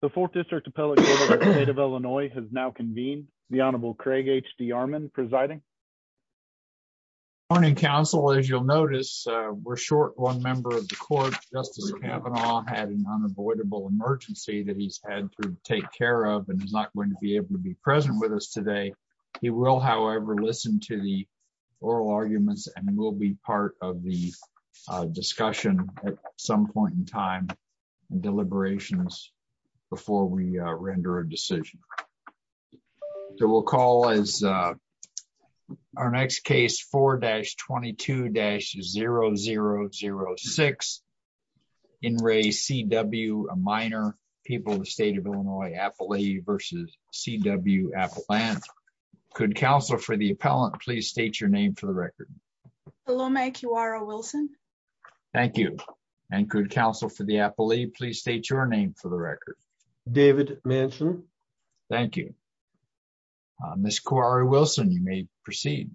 The Fourth District Appellate Court of the State of Illinois has now convened. The Honorable Craig H. D. Armon presiding. Good morning, counsel. As you'll notice, we're short one member of the court, Justice Kavanaugh, had an unavoidable emergency that he's had to take care of and is not going to be able to be present with us today. He will, however, listen to the oral arguments and will be part of the discussion at some point in time and deliberations before we render a decision. So we'll call as our next case 4-22-0006, in Ray C.W., a minor, people of the State of Illinois, Appalachee versus C.W., Appalachia. Could counsel for the appellant please state your name for the record? Salome Kiwara-Wilson. Thank you. And could counsel for the appellee please state your name for the record? David Manson. Thank you. Ms. Kiwara-Wilson, you may proceed.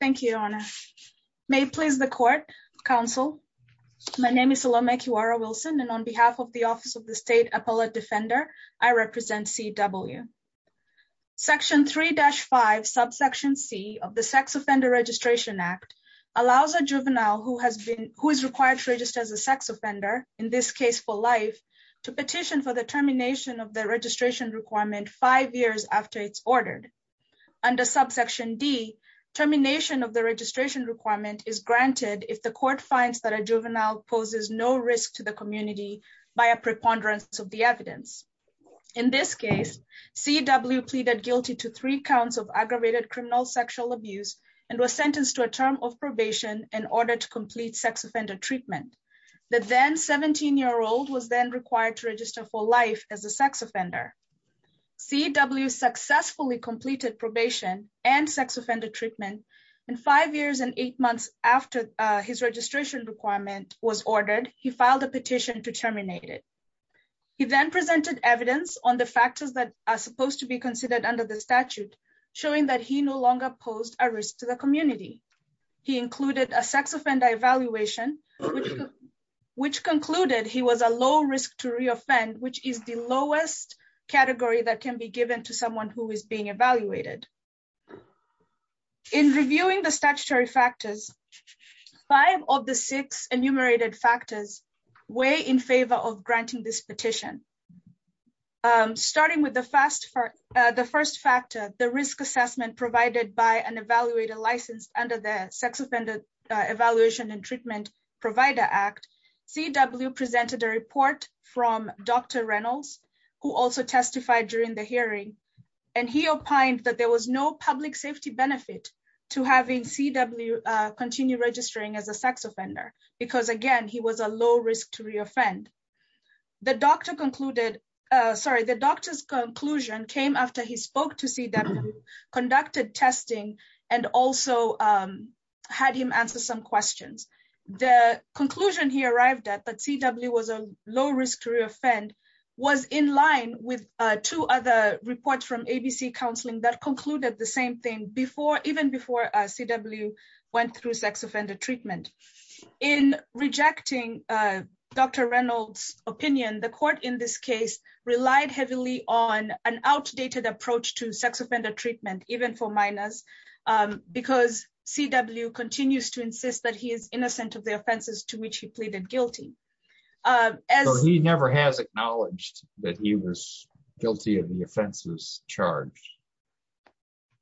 Thank you, Your Honor. May it please the court, counsel, my name is Salome Kiwara-Wilson and on behalf of the Office of the State Appellate Defender, I represent C.W. Section 3-5, subsection C of the Sex Offender Registration Act allows a juvenile who has been, who is required to register as a sex offender, in this case for life, to petition for the termination of the registration requirement five years after it's ordered. Under subsection D, termination of the registration requirement is granted if the court finds that a juvenile poses no risk to the community by a preponderance of the evidence. In this case, C.W. pleaded guilty to three counts of aggravated criminal sexual abuse and was sentenced to a term of probation in order to complete sex offender treatment. The then 17-year-old was then required to register for life as a sex offender. C.W. successfully completed probation and sex offender treatment and five years and eight months after his registration requirement was ordered, he filed a petition to terminate it. He then presented evidence on the factors that are supposed to be considered under the statute, showing that he no longer posed a risk to the community. He included a sex offender evaluation, which concluded he was a low risk to re-offend, which is the lowest category that can be given to someone who is being evaluated. In reviewing the statutory factors, five of the six enumerated factors weigh in favor of granting this petition, starting with the first factor, the risk assessment provided by an evaluator licensed under the Sex Offender Evaluation and Treatment Provider Act. C.W. presented a report from Dr. Reynolds, who also testified during the hearing, and he opined that there was no public safety benefit to having C.W. continue registering as a sex offender because, again, he was a low risk to re-offend. The doctor concluded, sorry, the doctor's conclusion came after he spoke to C.W., conducted testing and also had him answer some questions. The conclusion he arrived at that C.W. was a low risk to re-offend was in line with two other reports from ABC Counseling that concluded the same thing before, even before C.W. went through sex offender treatment. In rejecting Dr. Reynolds' opinion, the court in this case relied heavily on an outdated approach to sex offender treatment, even for minors, because C.W. continues to insist that he is innocent of the offenses to which he pleaded guilty. So he never has acknowledged that he was guilty of the offenses charged?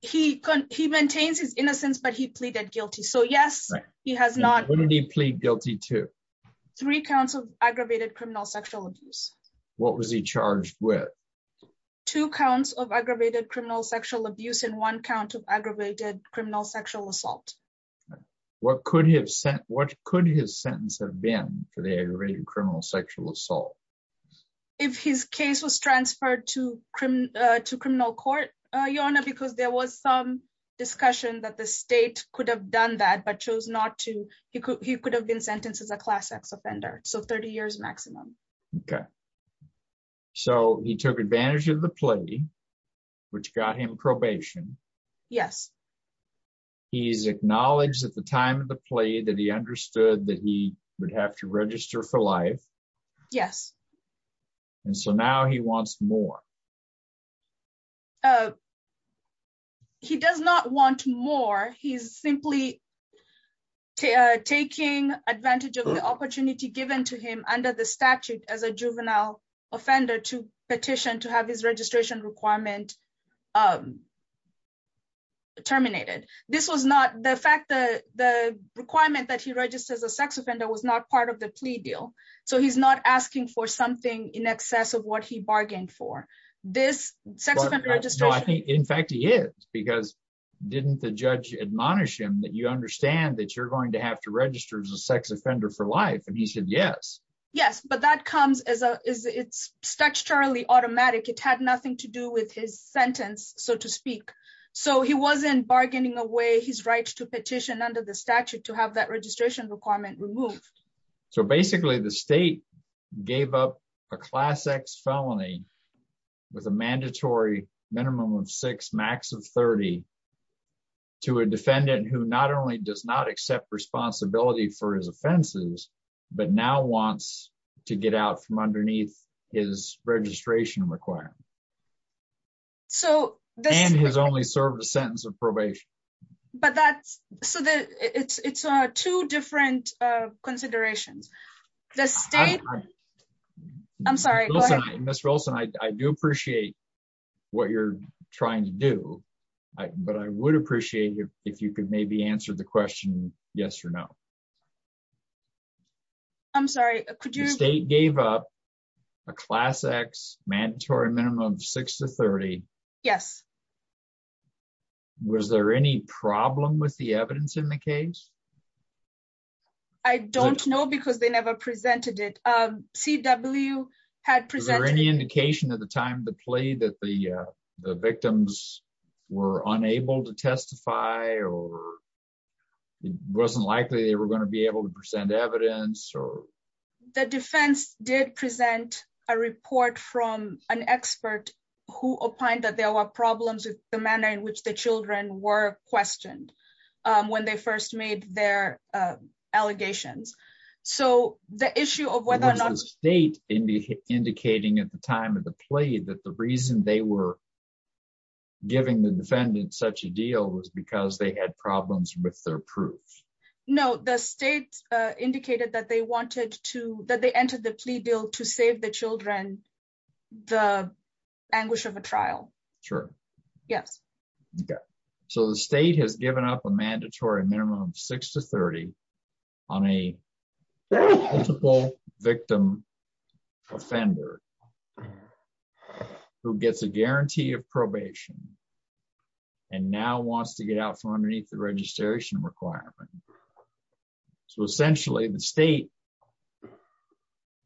He maintains his innocence, but he pleaded guilty. So, yes, he has not. When did he plead guilty to? Three counts of aggravated criminal sexual abuse. What was he charged with? Two counts of aggravated criminal sexual abuse and one count of aggravated criminal sexual assault. What could his sentence have been for the aggravated criminal sexual assault? If his case was transferred to criminal court, Your Honor, because there was some discussion that the state could have done that, but chose not to, he could have been sentenced as a class X offender. So 30 years maximum. So he took advantage of the plea, which got him probation. Yes. He's acknowledged at the time of the plea that he understood that he would have to register for life. Yes. And so now he wants more. He does not want more. He's simply taking advantage of the opportunity given to him under the statute as a juvenile offender to petition to have his registration requirement terminated. This was not the fact that the requirement that he registered as a sex offender was not part of the plea deal. So he's not asking for something in excess of what he bargained for. This sex offender registration... In fact, he is, because didn't the judge admonish him that you understand that you're going to have to register as a sex offender for life? And he said, yes. Yes. But that comes as a, it's structurally automatic. It had nothing to do with his sentence, so to speak. So he wasn't bargaining away his rights to petition under the statute to have that registration requirement removed. So basically the state gave up a class X felony with a mandatory minimum of six, max of 30 to a defendant who not only does not accept responsibility for his offenses, but now wants to get out from underneath his registration requirement. So this... And has only served a sentence of probation. But that's... So it's two different considerations. The state... I'm sorry. Go ahead. Ms. Wilson, I do appreciate what you're trying to do, but I would appreciate if you could maybe answer the question yes or no. I'm sorry. Could you... The state gave up a class X mandatory minimum of six to 30. Yes. Was there any problem with the evidence in the case? I don't know because they never presented it. CW had presented... Was there any indication at the time of the plea that the victims were unable to testify or it wasn't likely they were going to be able to present evidence or... The defense did present a report from an expert who opined that there were problems with the manner in which the children were questioned when they first made their allegations. So the issue of whether or not... Was the state indicating at the time of the plea that the reason they were giving the defendant such a deal was because they had problems with their proof? No. The state indicated that they wanted to... That they entered the plea deal to save the children the anguish of a trial. Sure. Yes. Okay. So the state has given up a mandatory minimum of six to 30 on a multiple victim offender who gets a guarantee of probation and now wants to get out from underneath the registration requirement. So essentially the state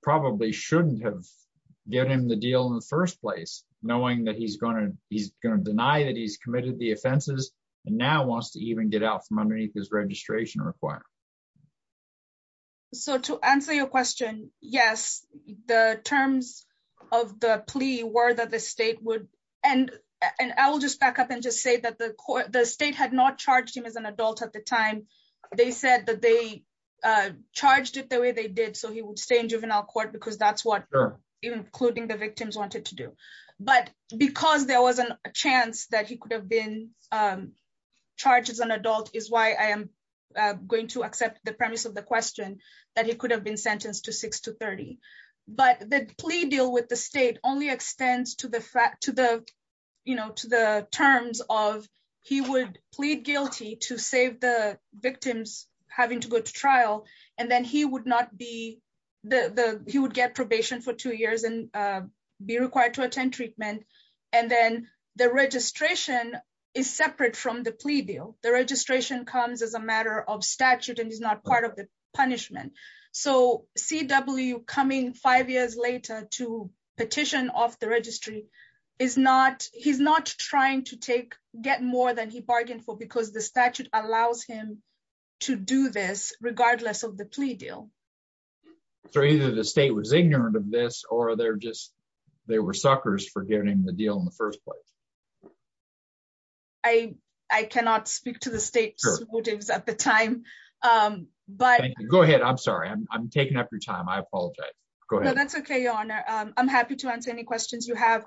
probably shouldn't have given him the deal in the first place knowing that he's going to deny that he's committed the offenses and now wants to even get out from underneath his registration requirement. So to answer your question, yes, the terms of the plea were that the state would... And I will just back up and just say that the court... The victim is an adult at the time. They said that they charged it the way they did. So he would stay in juvenile court because that's what including the victims wanted to do. But because there wasn't a chance that he could have been charged as an adult is why I am going to accept the premise of the question that he could have been sentenced to six to 30. But the plea deal with the state only extends to the terms of he would plead guilty to save the victims having to go to trial. And then he would get probation for two years and be required to attend treatment. And then the registration is separate from the plea deal. The registration comes as a matter of statute and is not part of the punishment. So CW coming five years later to petition off the registry, he's not trying to get more than he bargained for because the statute allows him to do this regardless of the plea deal. So either the state was ignorant of this or they were suckers for getting the deal in the first place. I cannot speak to the state's motives at the time. But go ahead. I'm sorry. I'm taking up your time. I apologize. Go ahead. That's OK. Your Honor. I'm happy to answer any questions you have.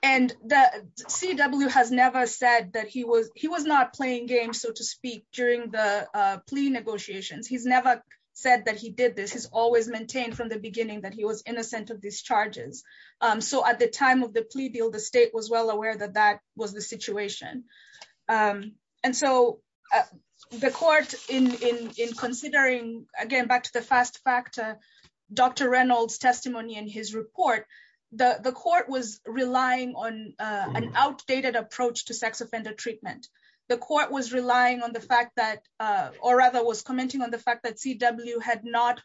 And the CW has never said that he was he was not playing games, so to speak, during the plea negotiations. He's never said that he did this. He's always maintained from the beginning that he was innocent of these charges. So at the time of the plea deal, the state was well aware that that was the situation. And so the court in considering, again, back to the fast factor, Dr. Reynolds testimony in his report, the court was relying on an outdated approach to sex offender treatment. The court was relying on the fact that or rather was commenting on the fact that CW had not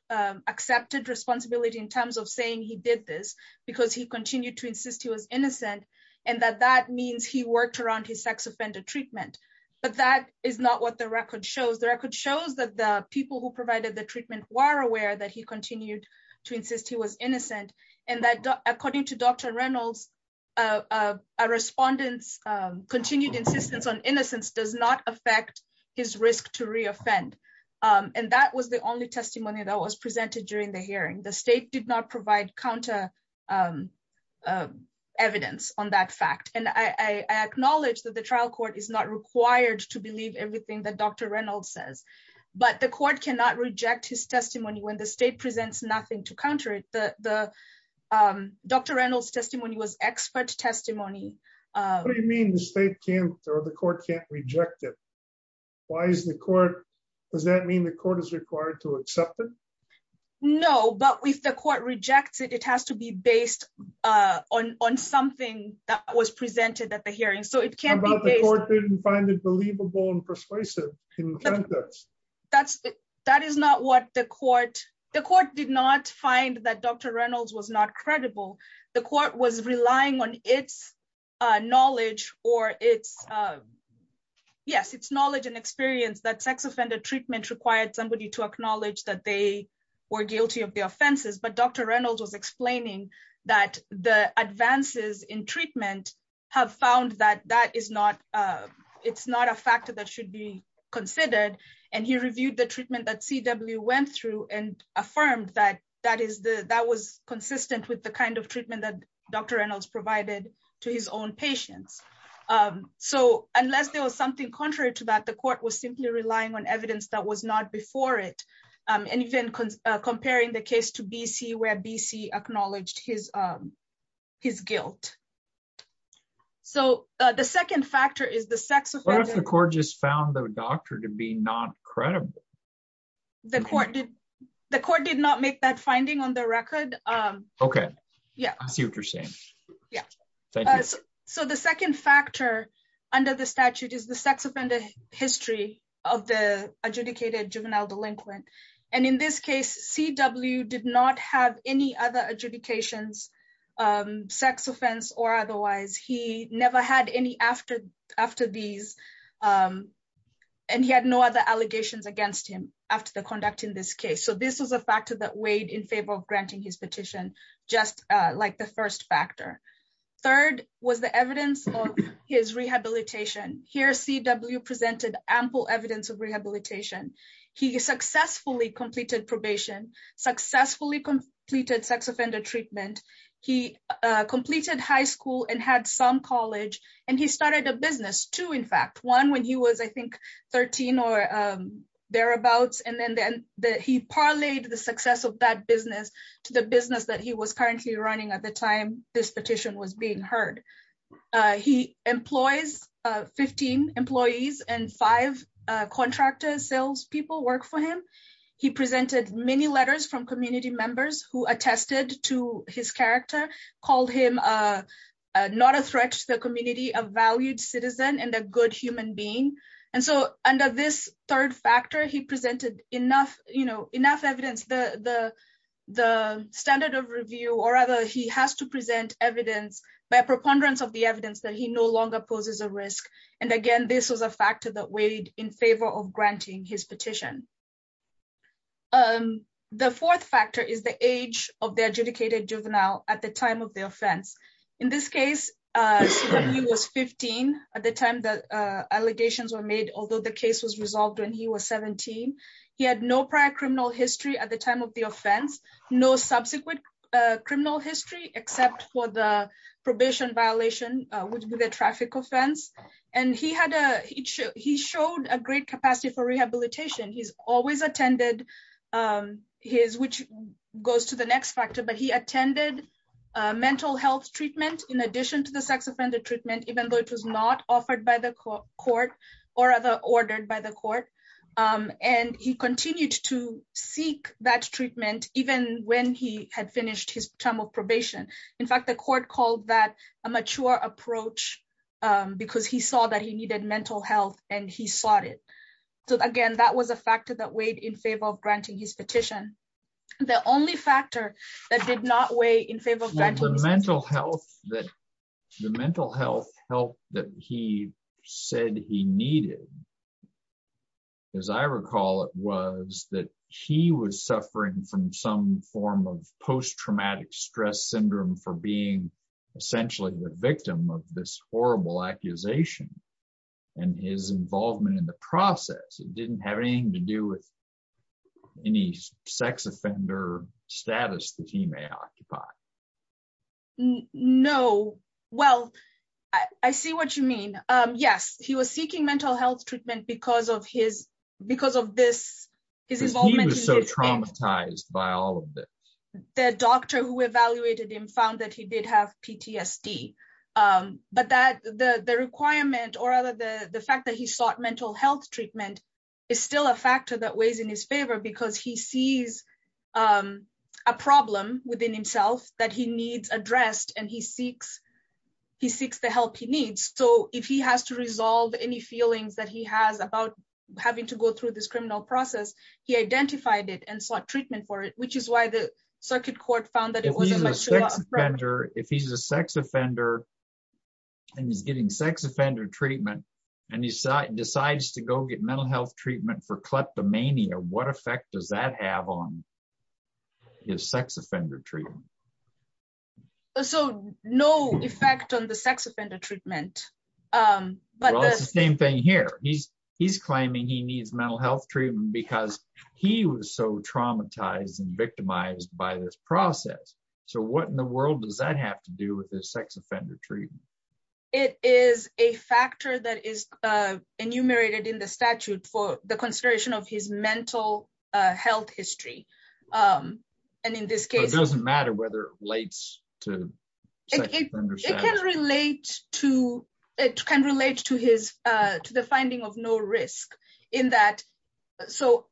accepted responsibility in terms of saying he did this because he continued to insist he was innocent. And that that means he worked around his sex offender treatment. But that is not what the record shows. The record shows that the people who provided the treatment were aware that he continued to insist he was innocent and that according to Dr. Reynolds, a respondent's continued insistence on innocence does not affect his risk to reoffend. And that was the only testimony that was presented during the hearing. The state did not provide counter evidence on that fact. And I acknowledge that the trial court is not required to believe everything that Dr. Reynolds says. But the court cannot reject his testimony when the state presents nothing to counter it. The Dr. Reynolds testimony was expert testimony. What do you mean the state can't or the court can't reject it? Why is the court does that mean the court is required to accept it? No. But if the court rejects it, it has to be based on something that was presented at the hearing. So it can't be the court didn't find it believable and persuasive. That's that is not what the court the court did not find that Dr. Reynolds was not credible. The court was relying on its knowledge or its yes, its knowledge and experience that sex offender treatment required somebody to acknowledge that they were guilty of the offenses. But Dr. Reynolds was explaining that the advances in treatment have found that that is not it's not a factor that should be considered. And he reviewed the treatment that CW went through and affirmed that that is the that was consistent with the kind of treatment that Dr. Reynolds provided to his own patients. So unless there was something contrary to that, the court was simply relying on evidence that was not before it and even comparing the case to B.C. where B.C. acknowledged his his guilt. So the second factor is the sex of the court just found the doctor to be not credible. The court did the court did not make that finding on the record. OK, yeah, I see what you're saying. Yeah, so the second factor under the statute is the sex offender history of the adjudicated juvenile delinquent. And in this case, CW did not have any other adjudications, sex offense or otherwise. He never had any after after these and he had no other allegations against him after the conduct in this case. So this was a factor that weighed in favor of granting his petition, just like the first factor. Third was the evidence of his rehabilitation. Here, CW presented ample evidence of rehabilitation. He successfully completed probation, successfully completed sex offender treatment. He completed high school and had some college and he started a business, too. In fact, one when he was, I think, 13 or thereabouts. And then then he parlayed the success of that business to the business that he was currently running at the time this petition was being heard. He employs 15 employees and five contractors, salespeople work for him. He presented many letters from community members who attested to his character, called him not a threat to the community, a valued citizen and a good human being. And so under this third factor, he presented enough, you know, enough evidence. The the the standard of review or rather, he has to present evidence by a preponderance of the evidence that he no longer poses a risk. And again, this was a factor that weighed in favor of granting his petition. The fourth factor is the age of the adjudicated juvenile at the time of the offense. In this case, CW was 15 at the time the allegations were made, although the case was resolved when he was 17. He had no prior criminal history at the time of the offense. No subsequent criminal history except for the probation violation with the traffic offense. And he had a he showed a great capacity for rehabilitation. He's always attended his which goes to the next factor, but he attended mental health treatment in addition to the sex offender treatment, even though it was not offered by the court or other ordered by the court. And he continued to seek that treatment even when he had finished his term of probation. In fact, the court called that a mature approach because he saw that he needed mental health and he sought it. So again, that was a factor that weighed in favor of granting his petition. The only factor that did not weigh in favor of mental health, that the mental health help that he said he needed. As I recall, it was that he was suffering from some form of post traumatic stress syndrome for being essentially the victim of this horrible accusation and his involvement in the process didn't have anything to do with any sex offender status that he may occupy. No. Well, I see what you mean. Yes, he was seeking mental health treatment because of his because of this. His involvement was so traumatized by all of this. The doctor who evaluated him found that he did have PTSD, but that the requirement or the fact that he sought mental health treatment is still a factor that weighs in his favor because he sees a problem within himself that he needs addressed and he seeks he seeks the help he needs. So if he has to resolve any feelings that he has about having to go through this criminal process, he identified it and sought treatment for it, which is why the circuit court found that if he's a sex offender and he's getting sex offender treatment and he decides to go get mental health treatment for kleptomania, what effect does that have on his sex offender treatment? So no effect on the sex offender treatment. Well, it's the same thing here. He's claiming he needs mental health treatment because he was so traumatized and victimized by this process. So what in the world does that have to do with his sex offender treatment? It is a factor that is enumerated in the statute for the consideration of his mental health history. And in this case, it doesn't matter whether it relates to it can relate to it can relate to his to the finding of no risk in that. So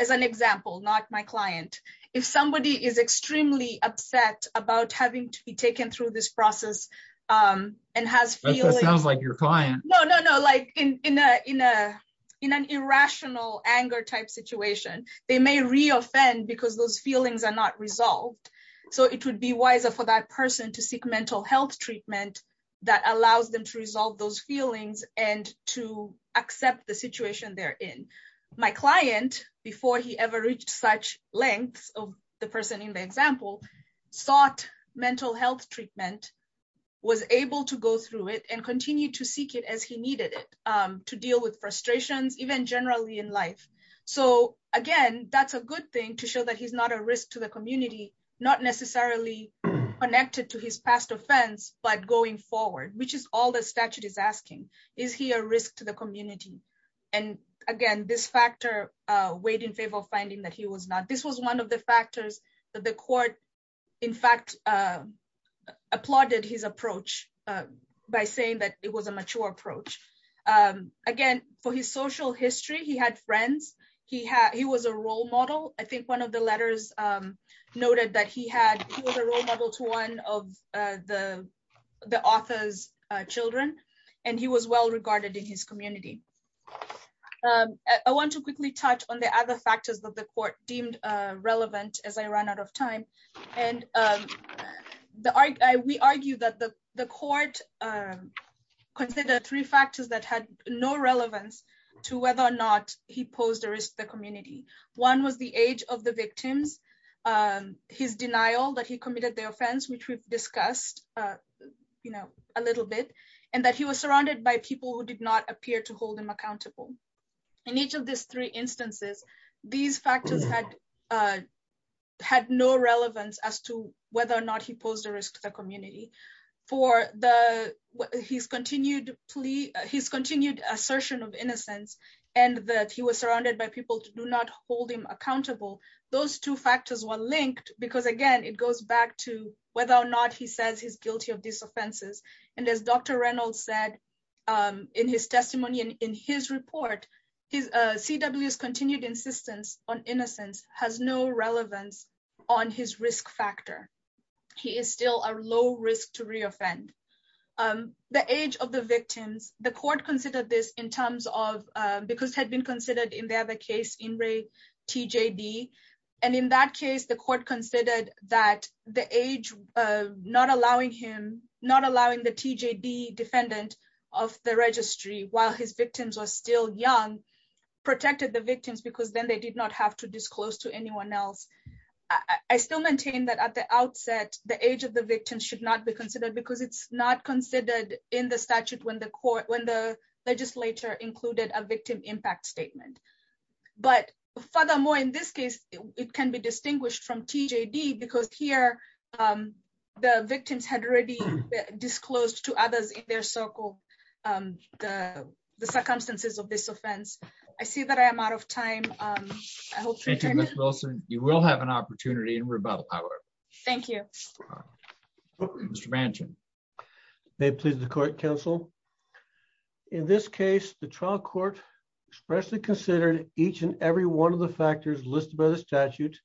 as an example, not my client, if somebody is extremely upset about having to be taken through this process and has feelings like your client. No, no, no. Like in a in a in an irrational anger type situation, they may reoffend because those feelings are not resolved. So it would be wiser for that person to seek mental health treatment that allows them to resolve those feelings and to accept the situation they're in. My client, before he ever reached such lengths of the person in the example, sought mental health treatment, was able to go through it and continue to seek it as he needed it to deal with frustrations, even generally in life. So, again, that's a good thing to show that he's not a risk to the community, not necessarily connected to his past offense. But going forward, which is all the statute is asking, is he a risk to the community? And again, this factor weighed in favor of finding that he was not. This was one of the factors that the court, in fact, applauded his approach by saying that it was a mature approach again for his social history. He had friends. He had he was a role model. I think one of the letters noted that he had a role model to one of the the author's children, and he was well regarded in his community. I want to quickly touch on the other factors that the court deemed relevant as I run out of time. And we argue that the court considered three factors that had no relevance to whether or not he posed a risk to the community. One was the age of the victims, his denial that he committed the offense, which we've discussed, you know, a little bit, and that he was surrounded by people who did not appear to hold him accountable in each of these three instances. These factors had had no relevance as to whether or not he posed a risk to the community for the he's continued plea. He's continued assertion of innocence and that he was surrounded by people to do not hold him accountable. Those two factors were linked because, again, it goes back to whether or not he says he's guilty of these offenses. And as Dr. Reynolds said in his testimony and in his report, his CWS continued insistence on innocence has no relevance on his risk factor. He is still a low risk to reoffend the age of the victims. The court considered this in terms of because it had been considered in the other case in that case, the court considered that the age of not allowing him not allowing the T.J. D. defendant of the registry, while his victims are still young, protected the victims because then they did not have to disclose to anyone else. I still maintain that at the outset, the age of the victim should not be considered because it's not considered in the statute when the court when the legislature included a victim impact statement. But furthermore, in this case, it can be distinguished from T.J. D. because here the victims had already disclosed to others in their circle the circumstances of this offense. I see that I am out of time. I hope you will have an opportunity in rebuttal. Thank you, Mr. Manchin. May it please the court, counsel. In this case, the trial court expressly considered each and every one of the factors listed by the statute,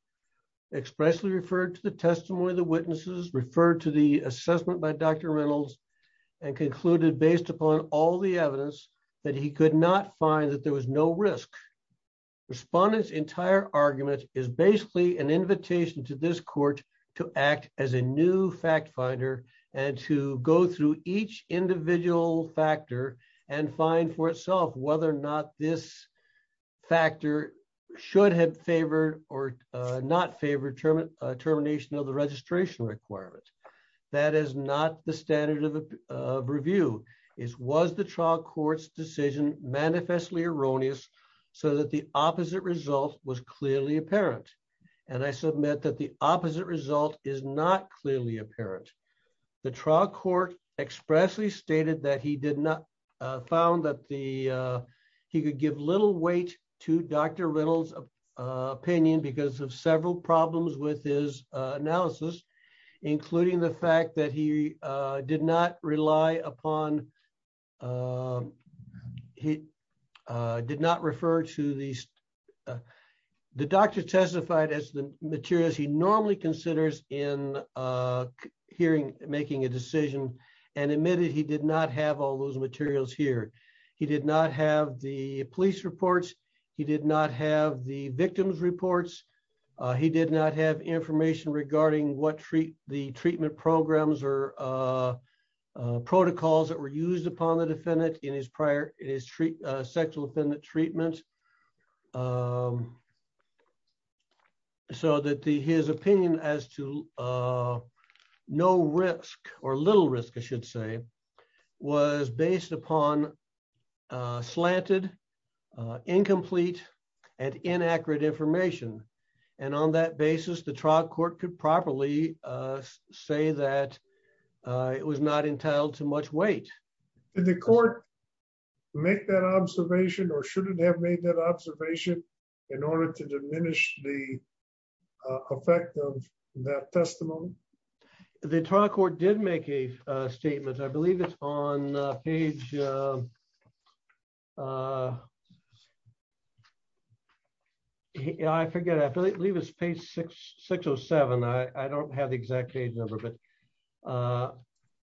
expressly referred to the testimony of the witnesses, referred to the assessment by Dr. Reynolds, and concluded based upon all the evidence that he could not find that there was no risk. Respondent's entire argument is basically an invitation to this court to act as a new fact finder and to go through each individual factor and find for itself whether or not this factor should have favored or not favored termination of the registration requirement. That is not the standard of review. Was the trial court's decision manifestly erroneous so that the opposite result was clearly apparent? And I submit that the opposite result is not clearly apparent. The trial court expressly stated that he did not found that he could give little weight to Dr. Reynolds' opinion because of several problems with his analysis, including the He testified as the materials he normally considers in hearing, making a decision and admitted he did not have all those materials here. He did not have the police reports. He did not have the victim's reports. He did not have information regarding what treat the treatment programs or protocols that were used upon the defendant in his prior in his sexual offendant treatment. So that the his opinion as to no risk or little risk, I should say, was based upon slanted, incomplete and inaccurate information. And on that basis, the trial court could properly say that it was not entitled to much weight. Did the court make that observation or shouldn't have made that observation in order to diminish the effect of that testimony? The trial court did make a statement. I believe it's on page. I forget. I believe it's page 607. I don't have the exact page number. But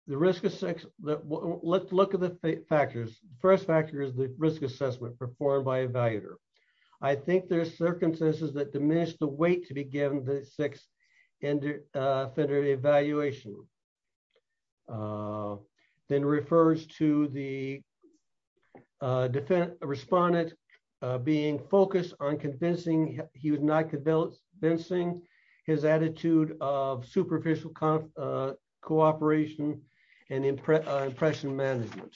the risk of sex. Let's look at the factors. First factor is the risk assessment performed by evaluator. I think there are circumstances that diminish the weight to be given the sex and federal evaluation. Then refers to the defense respondent being focused on convincing. He was not convincing his attitude of superficial cooperation and impression management.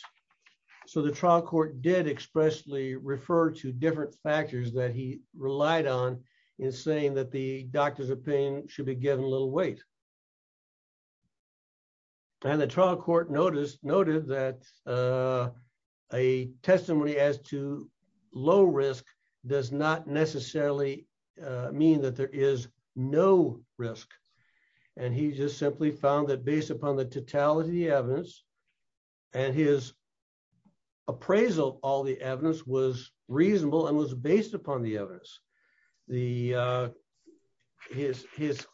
So the trial court did expressly refer to different factors that he relied on in saying that the doctors of pain should be given a little weight. And the trial court noted that a testimony as to low risk does not necessarily mean that there is no risk. And he just simply found that based upon the totality of the evidence and his appraisal of all the evidence was reasonable and was based upon the evidence. His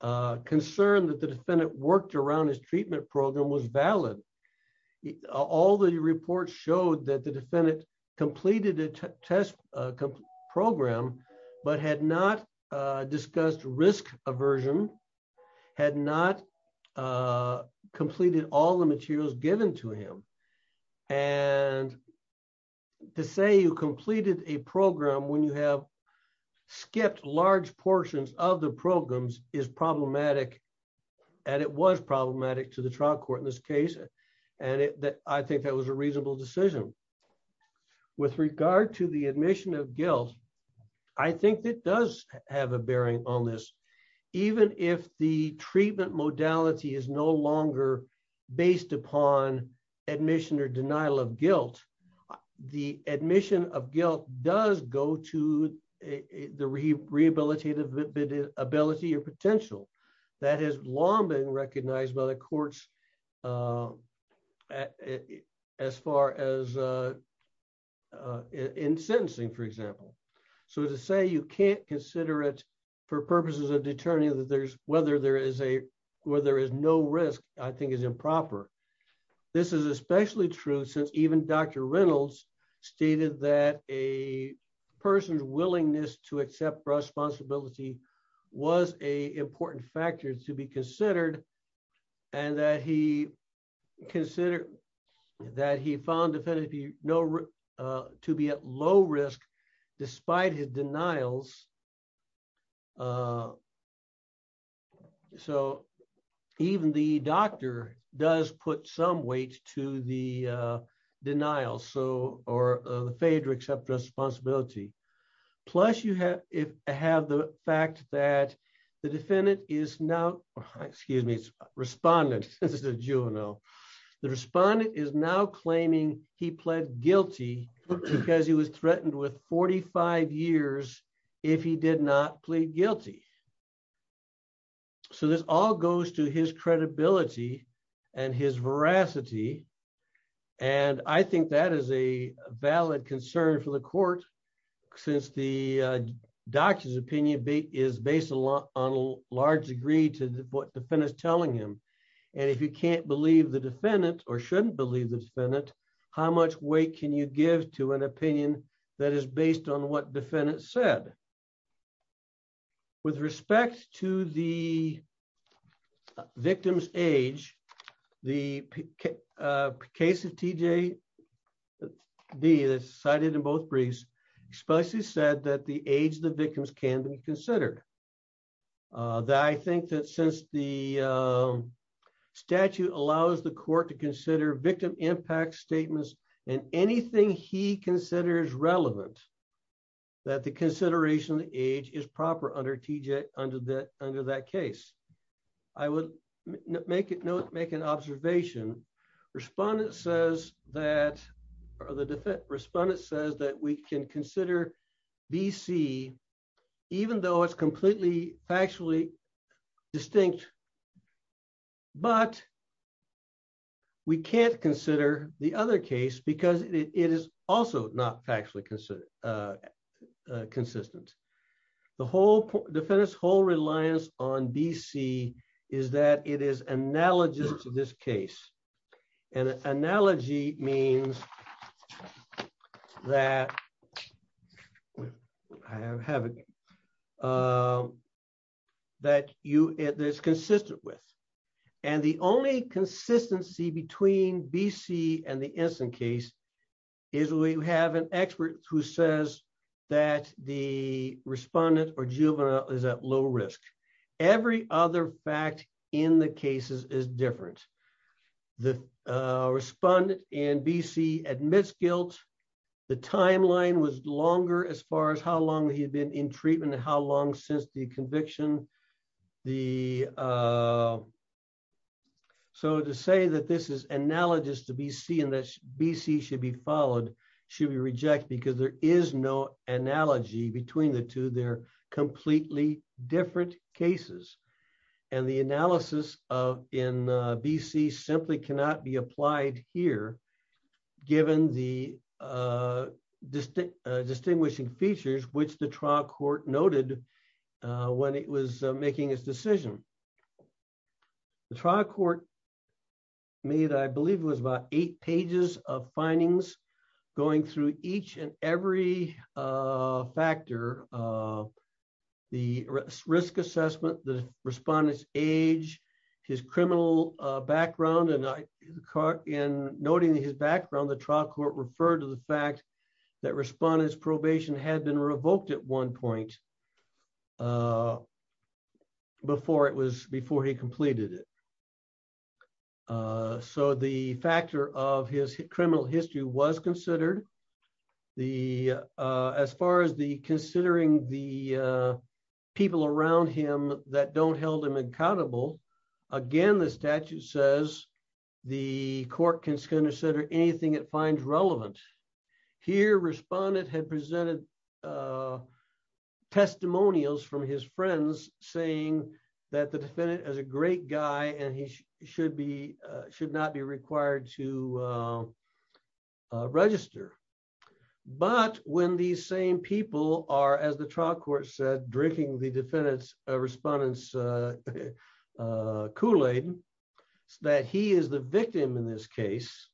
concern that the defendant worked around his treatment program was valid. All the reports showed that the defendant completed a test program but had not discussed risk aversion, had not completed all the materials given to him. And to say you completed a program when you have skipped large portions of the programs is problematic and it was problematic to the trial court in this case. And I think that was a reasonable decision. With regard to the admission of guilt, I think it does have a bearing on this. Even if the treatment modality is no longer based upon admission or denial of guilt, the admission of guilt does go to the rehabilitative ability or potential. That has long been recognized by the courts as far as in sentencing, for example. So to say you can't consider it for purposes of determining whether there is no risk I think is improper. This is especially true since even Dr. Reynolds stated that a person's willingness to accept responsibility was an important factor to be considered and that he considered that he found the defendant to be at low risk despite his denials. So even the doctor does put some weight to the denials or the failure to accept responsibility. Plus you have the fact that the defendant is now, excuse me, the respondent is now claiming he pled guilty because he was threatened with 45 years if he did not plead guilty. So this all goes to his credibility and his veracity and I think that is a valid concern for the court since the doctor's opinion is based on a large degree to what the defendant is telling him. And if you can't believe the defendant or shouldn't believe the defendant, how much weight can you give to an opinion that is based on what the defendant said? With respect to the victim's age, the case of T.J. Dee that's cited in both briefs especially said that the age of the victims can be considered. I think that since the statute allows the court to consider victim impact statements and anything he considers relevant that the consideration of the age is proper under T.J. under that case. I would make an observation. Respondent says that we can consider B.C. even though it's completely factually distinct but we can't consider the other case because it is also not factually consistent. The defendant's whole reliance on B.C. is that it is analogous to this case. Analogy means that it is consistent with. And the only consistency between B.C. and the instant case is we have an expert who says that the respondent or juvenile is at low risk. Every other fact in the cases is different. The respondent in B.C. admits guilt. The timeline was longer as far as how long he had been in treatment and how long since the conviction. So to say that this is analogous to B.C. and that B.C. should be followed should be rejected because there is no analogy between the two. They are completely different cases. And the analysis in B.C. simply cannot be applied here given the distinguishing features which the trial court noted when it was making its decision. The trial court made I believe it was about eight pages of findings going through each and every factor. The risk assessment, the respondent's age, his criminal background and noting his background, the trial court referred to the fact that respondent's probation had been revoked at one point before he completed it. So the factor of his criminal history was considered. As far as considering the people around him that don't hold him accountable, again the statute says the court can consider anything it finds relevant. Here respondent had presented testimonials from his friends saying that the defendant is a great guy and he should not be required to register. But when these same people are, as the trial court said, drinking the defendant's, respondent's Kool-Aid, that he is the victim in this case,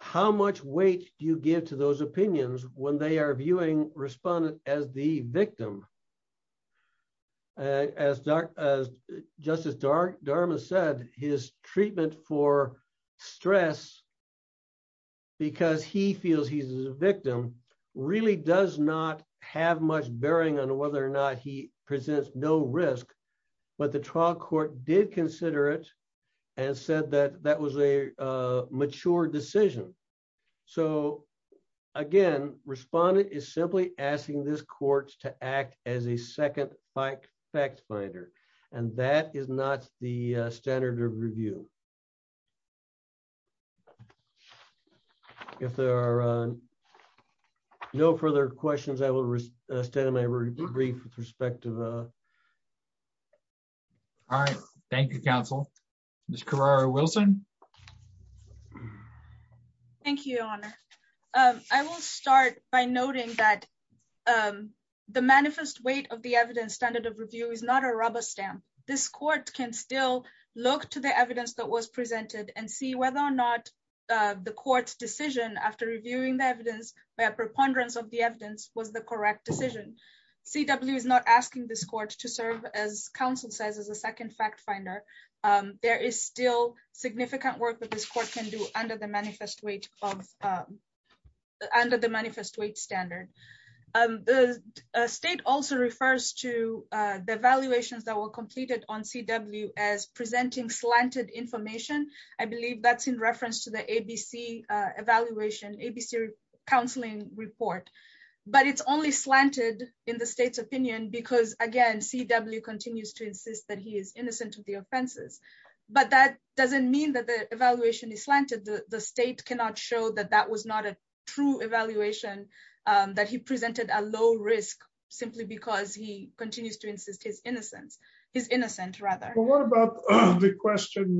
how much weight do you give to those opinions when they are viewing respondent as the victim? As Justice Darma said, his treatment for stress because he feels he is a victim really does not have much bearing on whether or not he presents no risk. But the trial court did consider it and said that that was a mature decision. So again, respondent is simply asking this court to act in a manner that he sees fit as a second fact finder. And that is not the standard of review. If there are no further questions, I will extend my brief with respect to the. All right. Thank you, counsel. Thank you, your honor. I will start by noting that the manifest weight of the evidence standard of review is not a rubber stamp. This court can still look to the evidence that was presented and see whether or not the court's decision after reviewing the evidence by a preponderance of the evidence was the correct decision. CW is not asking this court to serve as counsel says as a second fact finder. There is still significant work that this court can do under the manifest weight of under the manifest weight standard. The state also refers to the evaluations that were completed on CW as presenting slanted information. I believe that's in reference to the ABC evaluation ABC counseling report. But it's only slanted in the state's opinion because again CW continues to insist that he is innocent of the offenses. But that doesn't mean that the evaluation is slanted. The state cannot show that that was not a true evaluation, that he presented a low risk simply because he continues to insist his innocence, his innocent rather. What about the question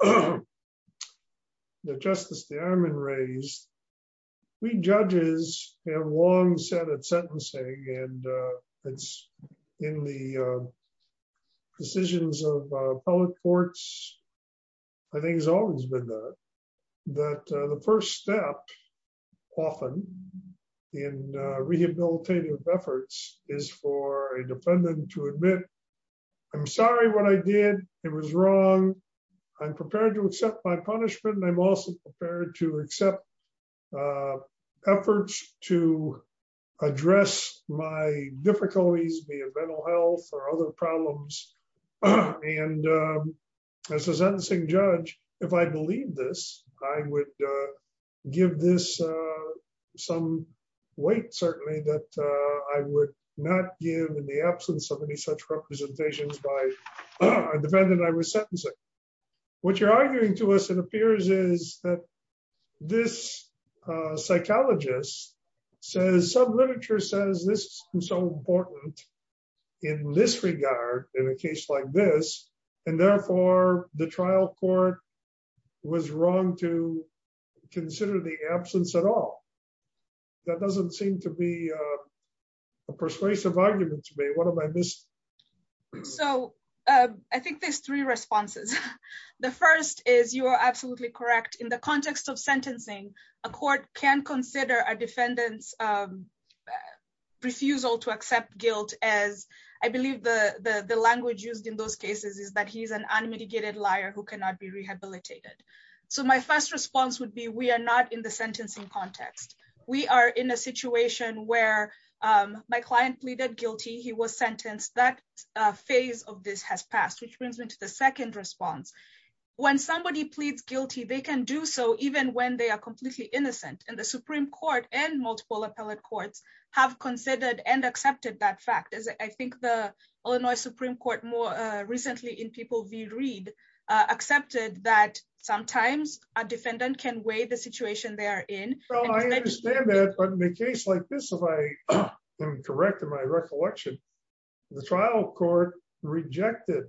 that Justice D'Armand raised? We judges have long sat at sentencing and it's in the decisions of public courts. I think it's always been that the first step often in rehabilitative efforts is for a defendant to admit I'm sorry what I did. It was wrong. I'm prepared to accept my punishment. I'm also prepared to accept efforts to address my difficulties via mental health or other problems. And as a sentencing judge, if I believe this, I would give this some weight certainly that I would not give in the absence of any such representations by the defendant I was sentencing. What you're arguing to us it appears is that this psychologist says some literature says this is so important in this regard in a case like this and therefore the trial court was wrong to consider the absence at all. That doesn't seem to be a persuasive argument to me. What am I missing? So I think there's three responses. The first is you are absolutely correct. In the context of sentencing, a court can consider a defendant's refusal to accept guilt as I believe the language used in those cases is that he's an unmitigated liar who cannot be rehabilitated. So my first response would be we are not in the sentencing context. We are in a situation where my client pleaded guilty. He was sentenced. That phase of this has passed. Which brings me to the second response. When somebody pleads guilty, they can do so even when they are completely innocent. And the Supreme Court and multiple appellate courts have considered and accepted that fact. I think the Illinois Supreme Court more recently in People v. I understand that, but in a case like this, if I am correct in my recollection, the trial court rejected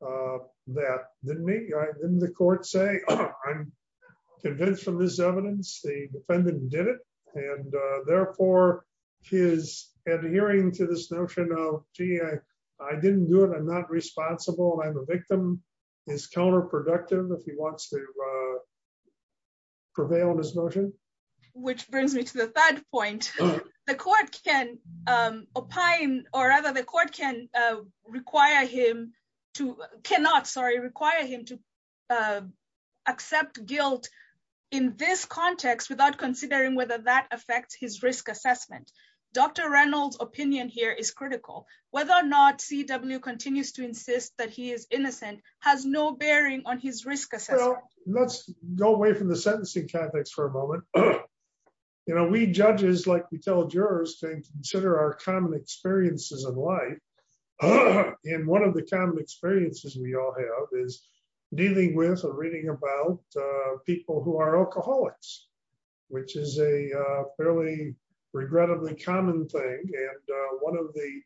that. Didn't the court say I'm convinced from this evidence, the defendant did it, and therefore his adhering to this notion of gee, I didn't do it, I'm not responsible, I'm a victim is counterproductive if he wants to prevail on this notion? Which brings me to the third point. The court can opine, or rather the court can require him to, cannot, sorry, require him to accept guilt in this context without considering whether that affects his risk assessment. Dr. Reynolds' opinion here is critical. Whether or not CW continues to insist that he is innocent has no risk assessment. Let's go away from the sentencing context for a moment. We judges, like we told jurors, can consider our common experiences in life, and one of the common experiences we all have is dealing with or reading about people who are alcoholics, which is a fairly regrettably common thing, and one of the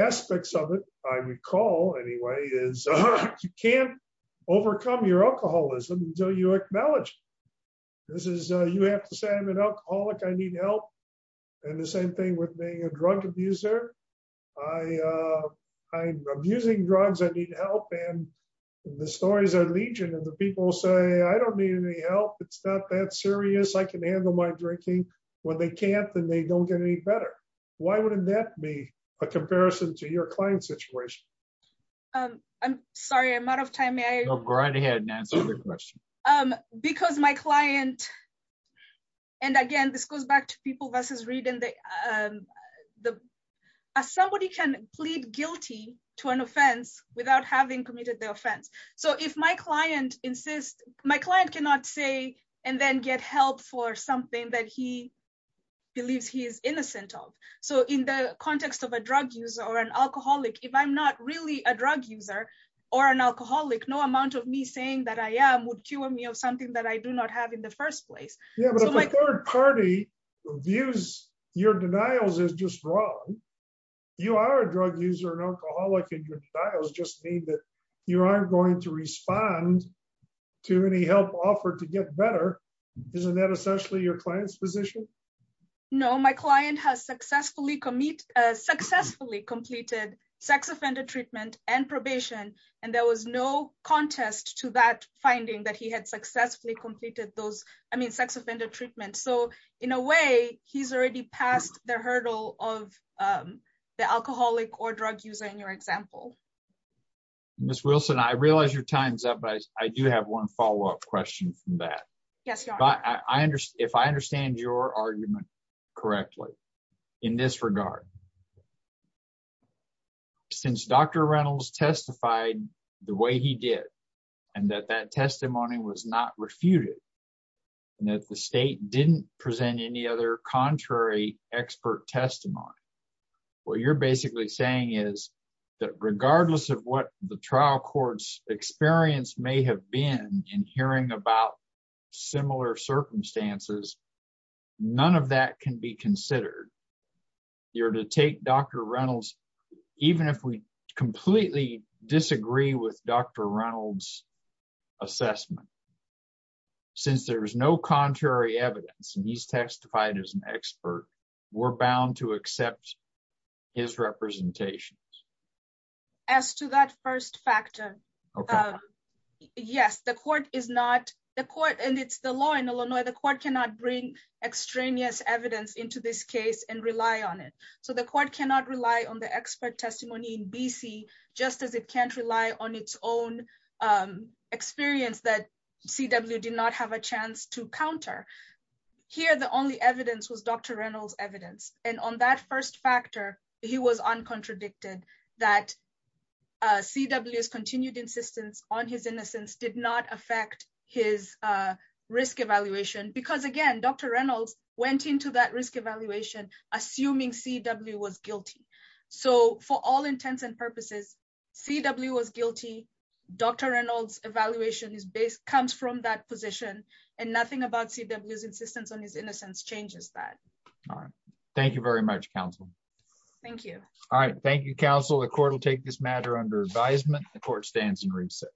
aspects of it, I recall anyway, is you can't overcome your alcoholism until you acknowledge it. You have to say I'm an alcoholic, I need help, and the same thing with being a drug abuser. I'm abusing drugs, I need help, and the stories are legion, and the people say I don't need any help, it's not that serious, I can handle my drinking. When they can't, then they don't get any better. Why wouldn't that be a comparison to your client's situation? I'm sorry, I'm out of time. Go right ahead and answer the question. Because my client, and again, this goes back to people versus reading, as somebody can plead guilty to an offense without having committed the offense. So if my client insists, my client cannot say and then get help for something that he believes he is innocent of. So in the context of a drug user or an alcoholic, if I'm not really a drug user or an alcoholic, no amount of me saying that I am would cure me of something that I do not have in the first place. The third party views your denials as just wrong. You are a drug user and alcoholic and your denials just mean that you aren't going to respond to any help offered to get better. Isn't that essentially your client's position? No, my client has successfully completed sex offender treatment and probation, and there was no contest to that finding that he had successfully completed those, I mean, sex offender treatment. So in a way, he's already passed the hurdle of the alcoholic or drug user in your example. Ms. Wilson, I realize your time is up, but I do have one follow-up question from that. If I understand your argument correctly in this regard, since Dr. Reynolds testified the way he did and that that testimony was not refuted and that the state didn't present any other contrary expert testimony, what you're basically saying is that regardless of what the state is doing about similar circumstances, none of that can be considered. You're to take Dr. Reynolds, even if we completely disagree with Dr. Reynolds' assessment, since there's no contrary evidence and he's testified as an expert, we're bound to accept his representations. As to that first factor, yes, the court is not, and it's the law in Illinois, the court cannot bring extraneous evidence into this case and rely on it. So the court cannot rely on the expert testimony in B.C. just as it can't rely on its own experience that CW did not have a chance to counter. Here, the only evidence was Dr. Reynolds' evidence, and on that first point, the court has not contradicted that CW's continued insistence on his innocence did not affect his risk evaluation, because again, Dr. Reynolds went into that risk evaluation assuming CW was guilty. So for all intents and purposes, CW was guilty, Dr. Reynolds' evaluation comes from that position, and nothing about CW's insistence on his innocence changes that. All right. Thank you very much, counsel. Thank you. All right. Thank you, counsel. The court will take this matter under advisement. The court stands in recess.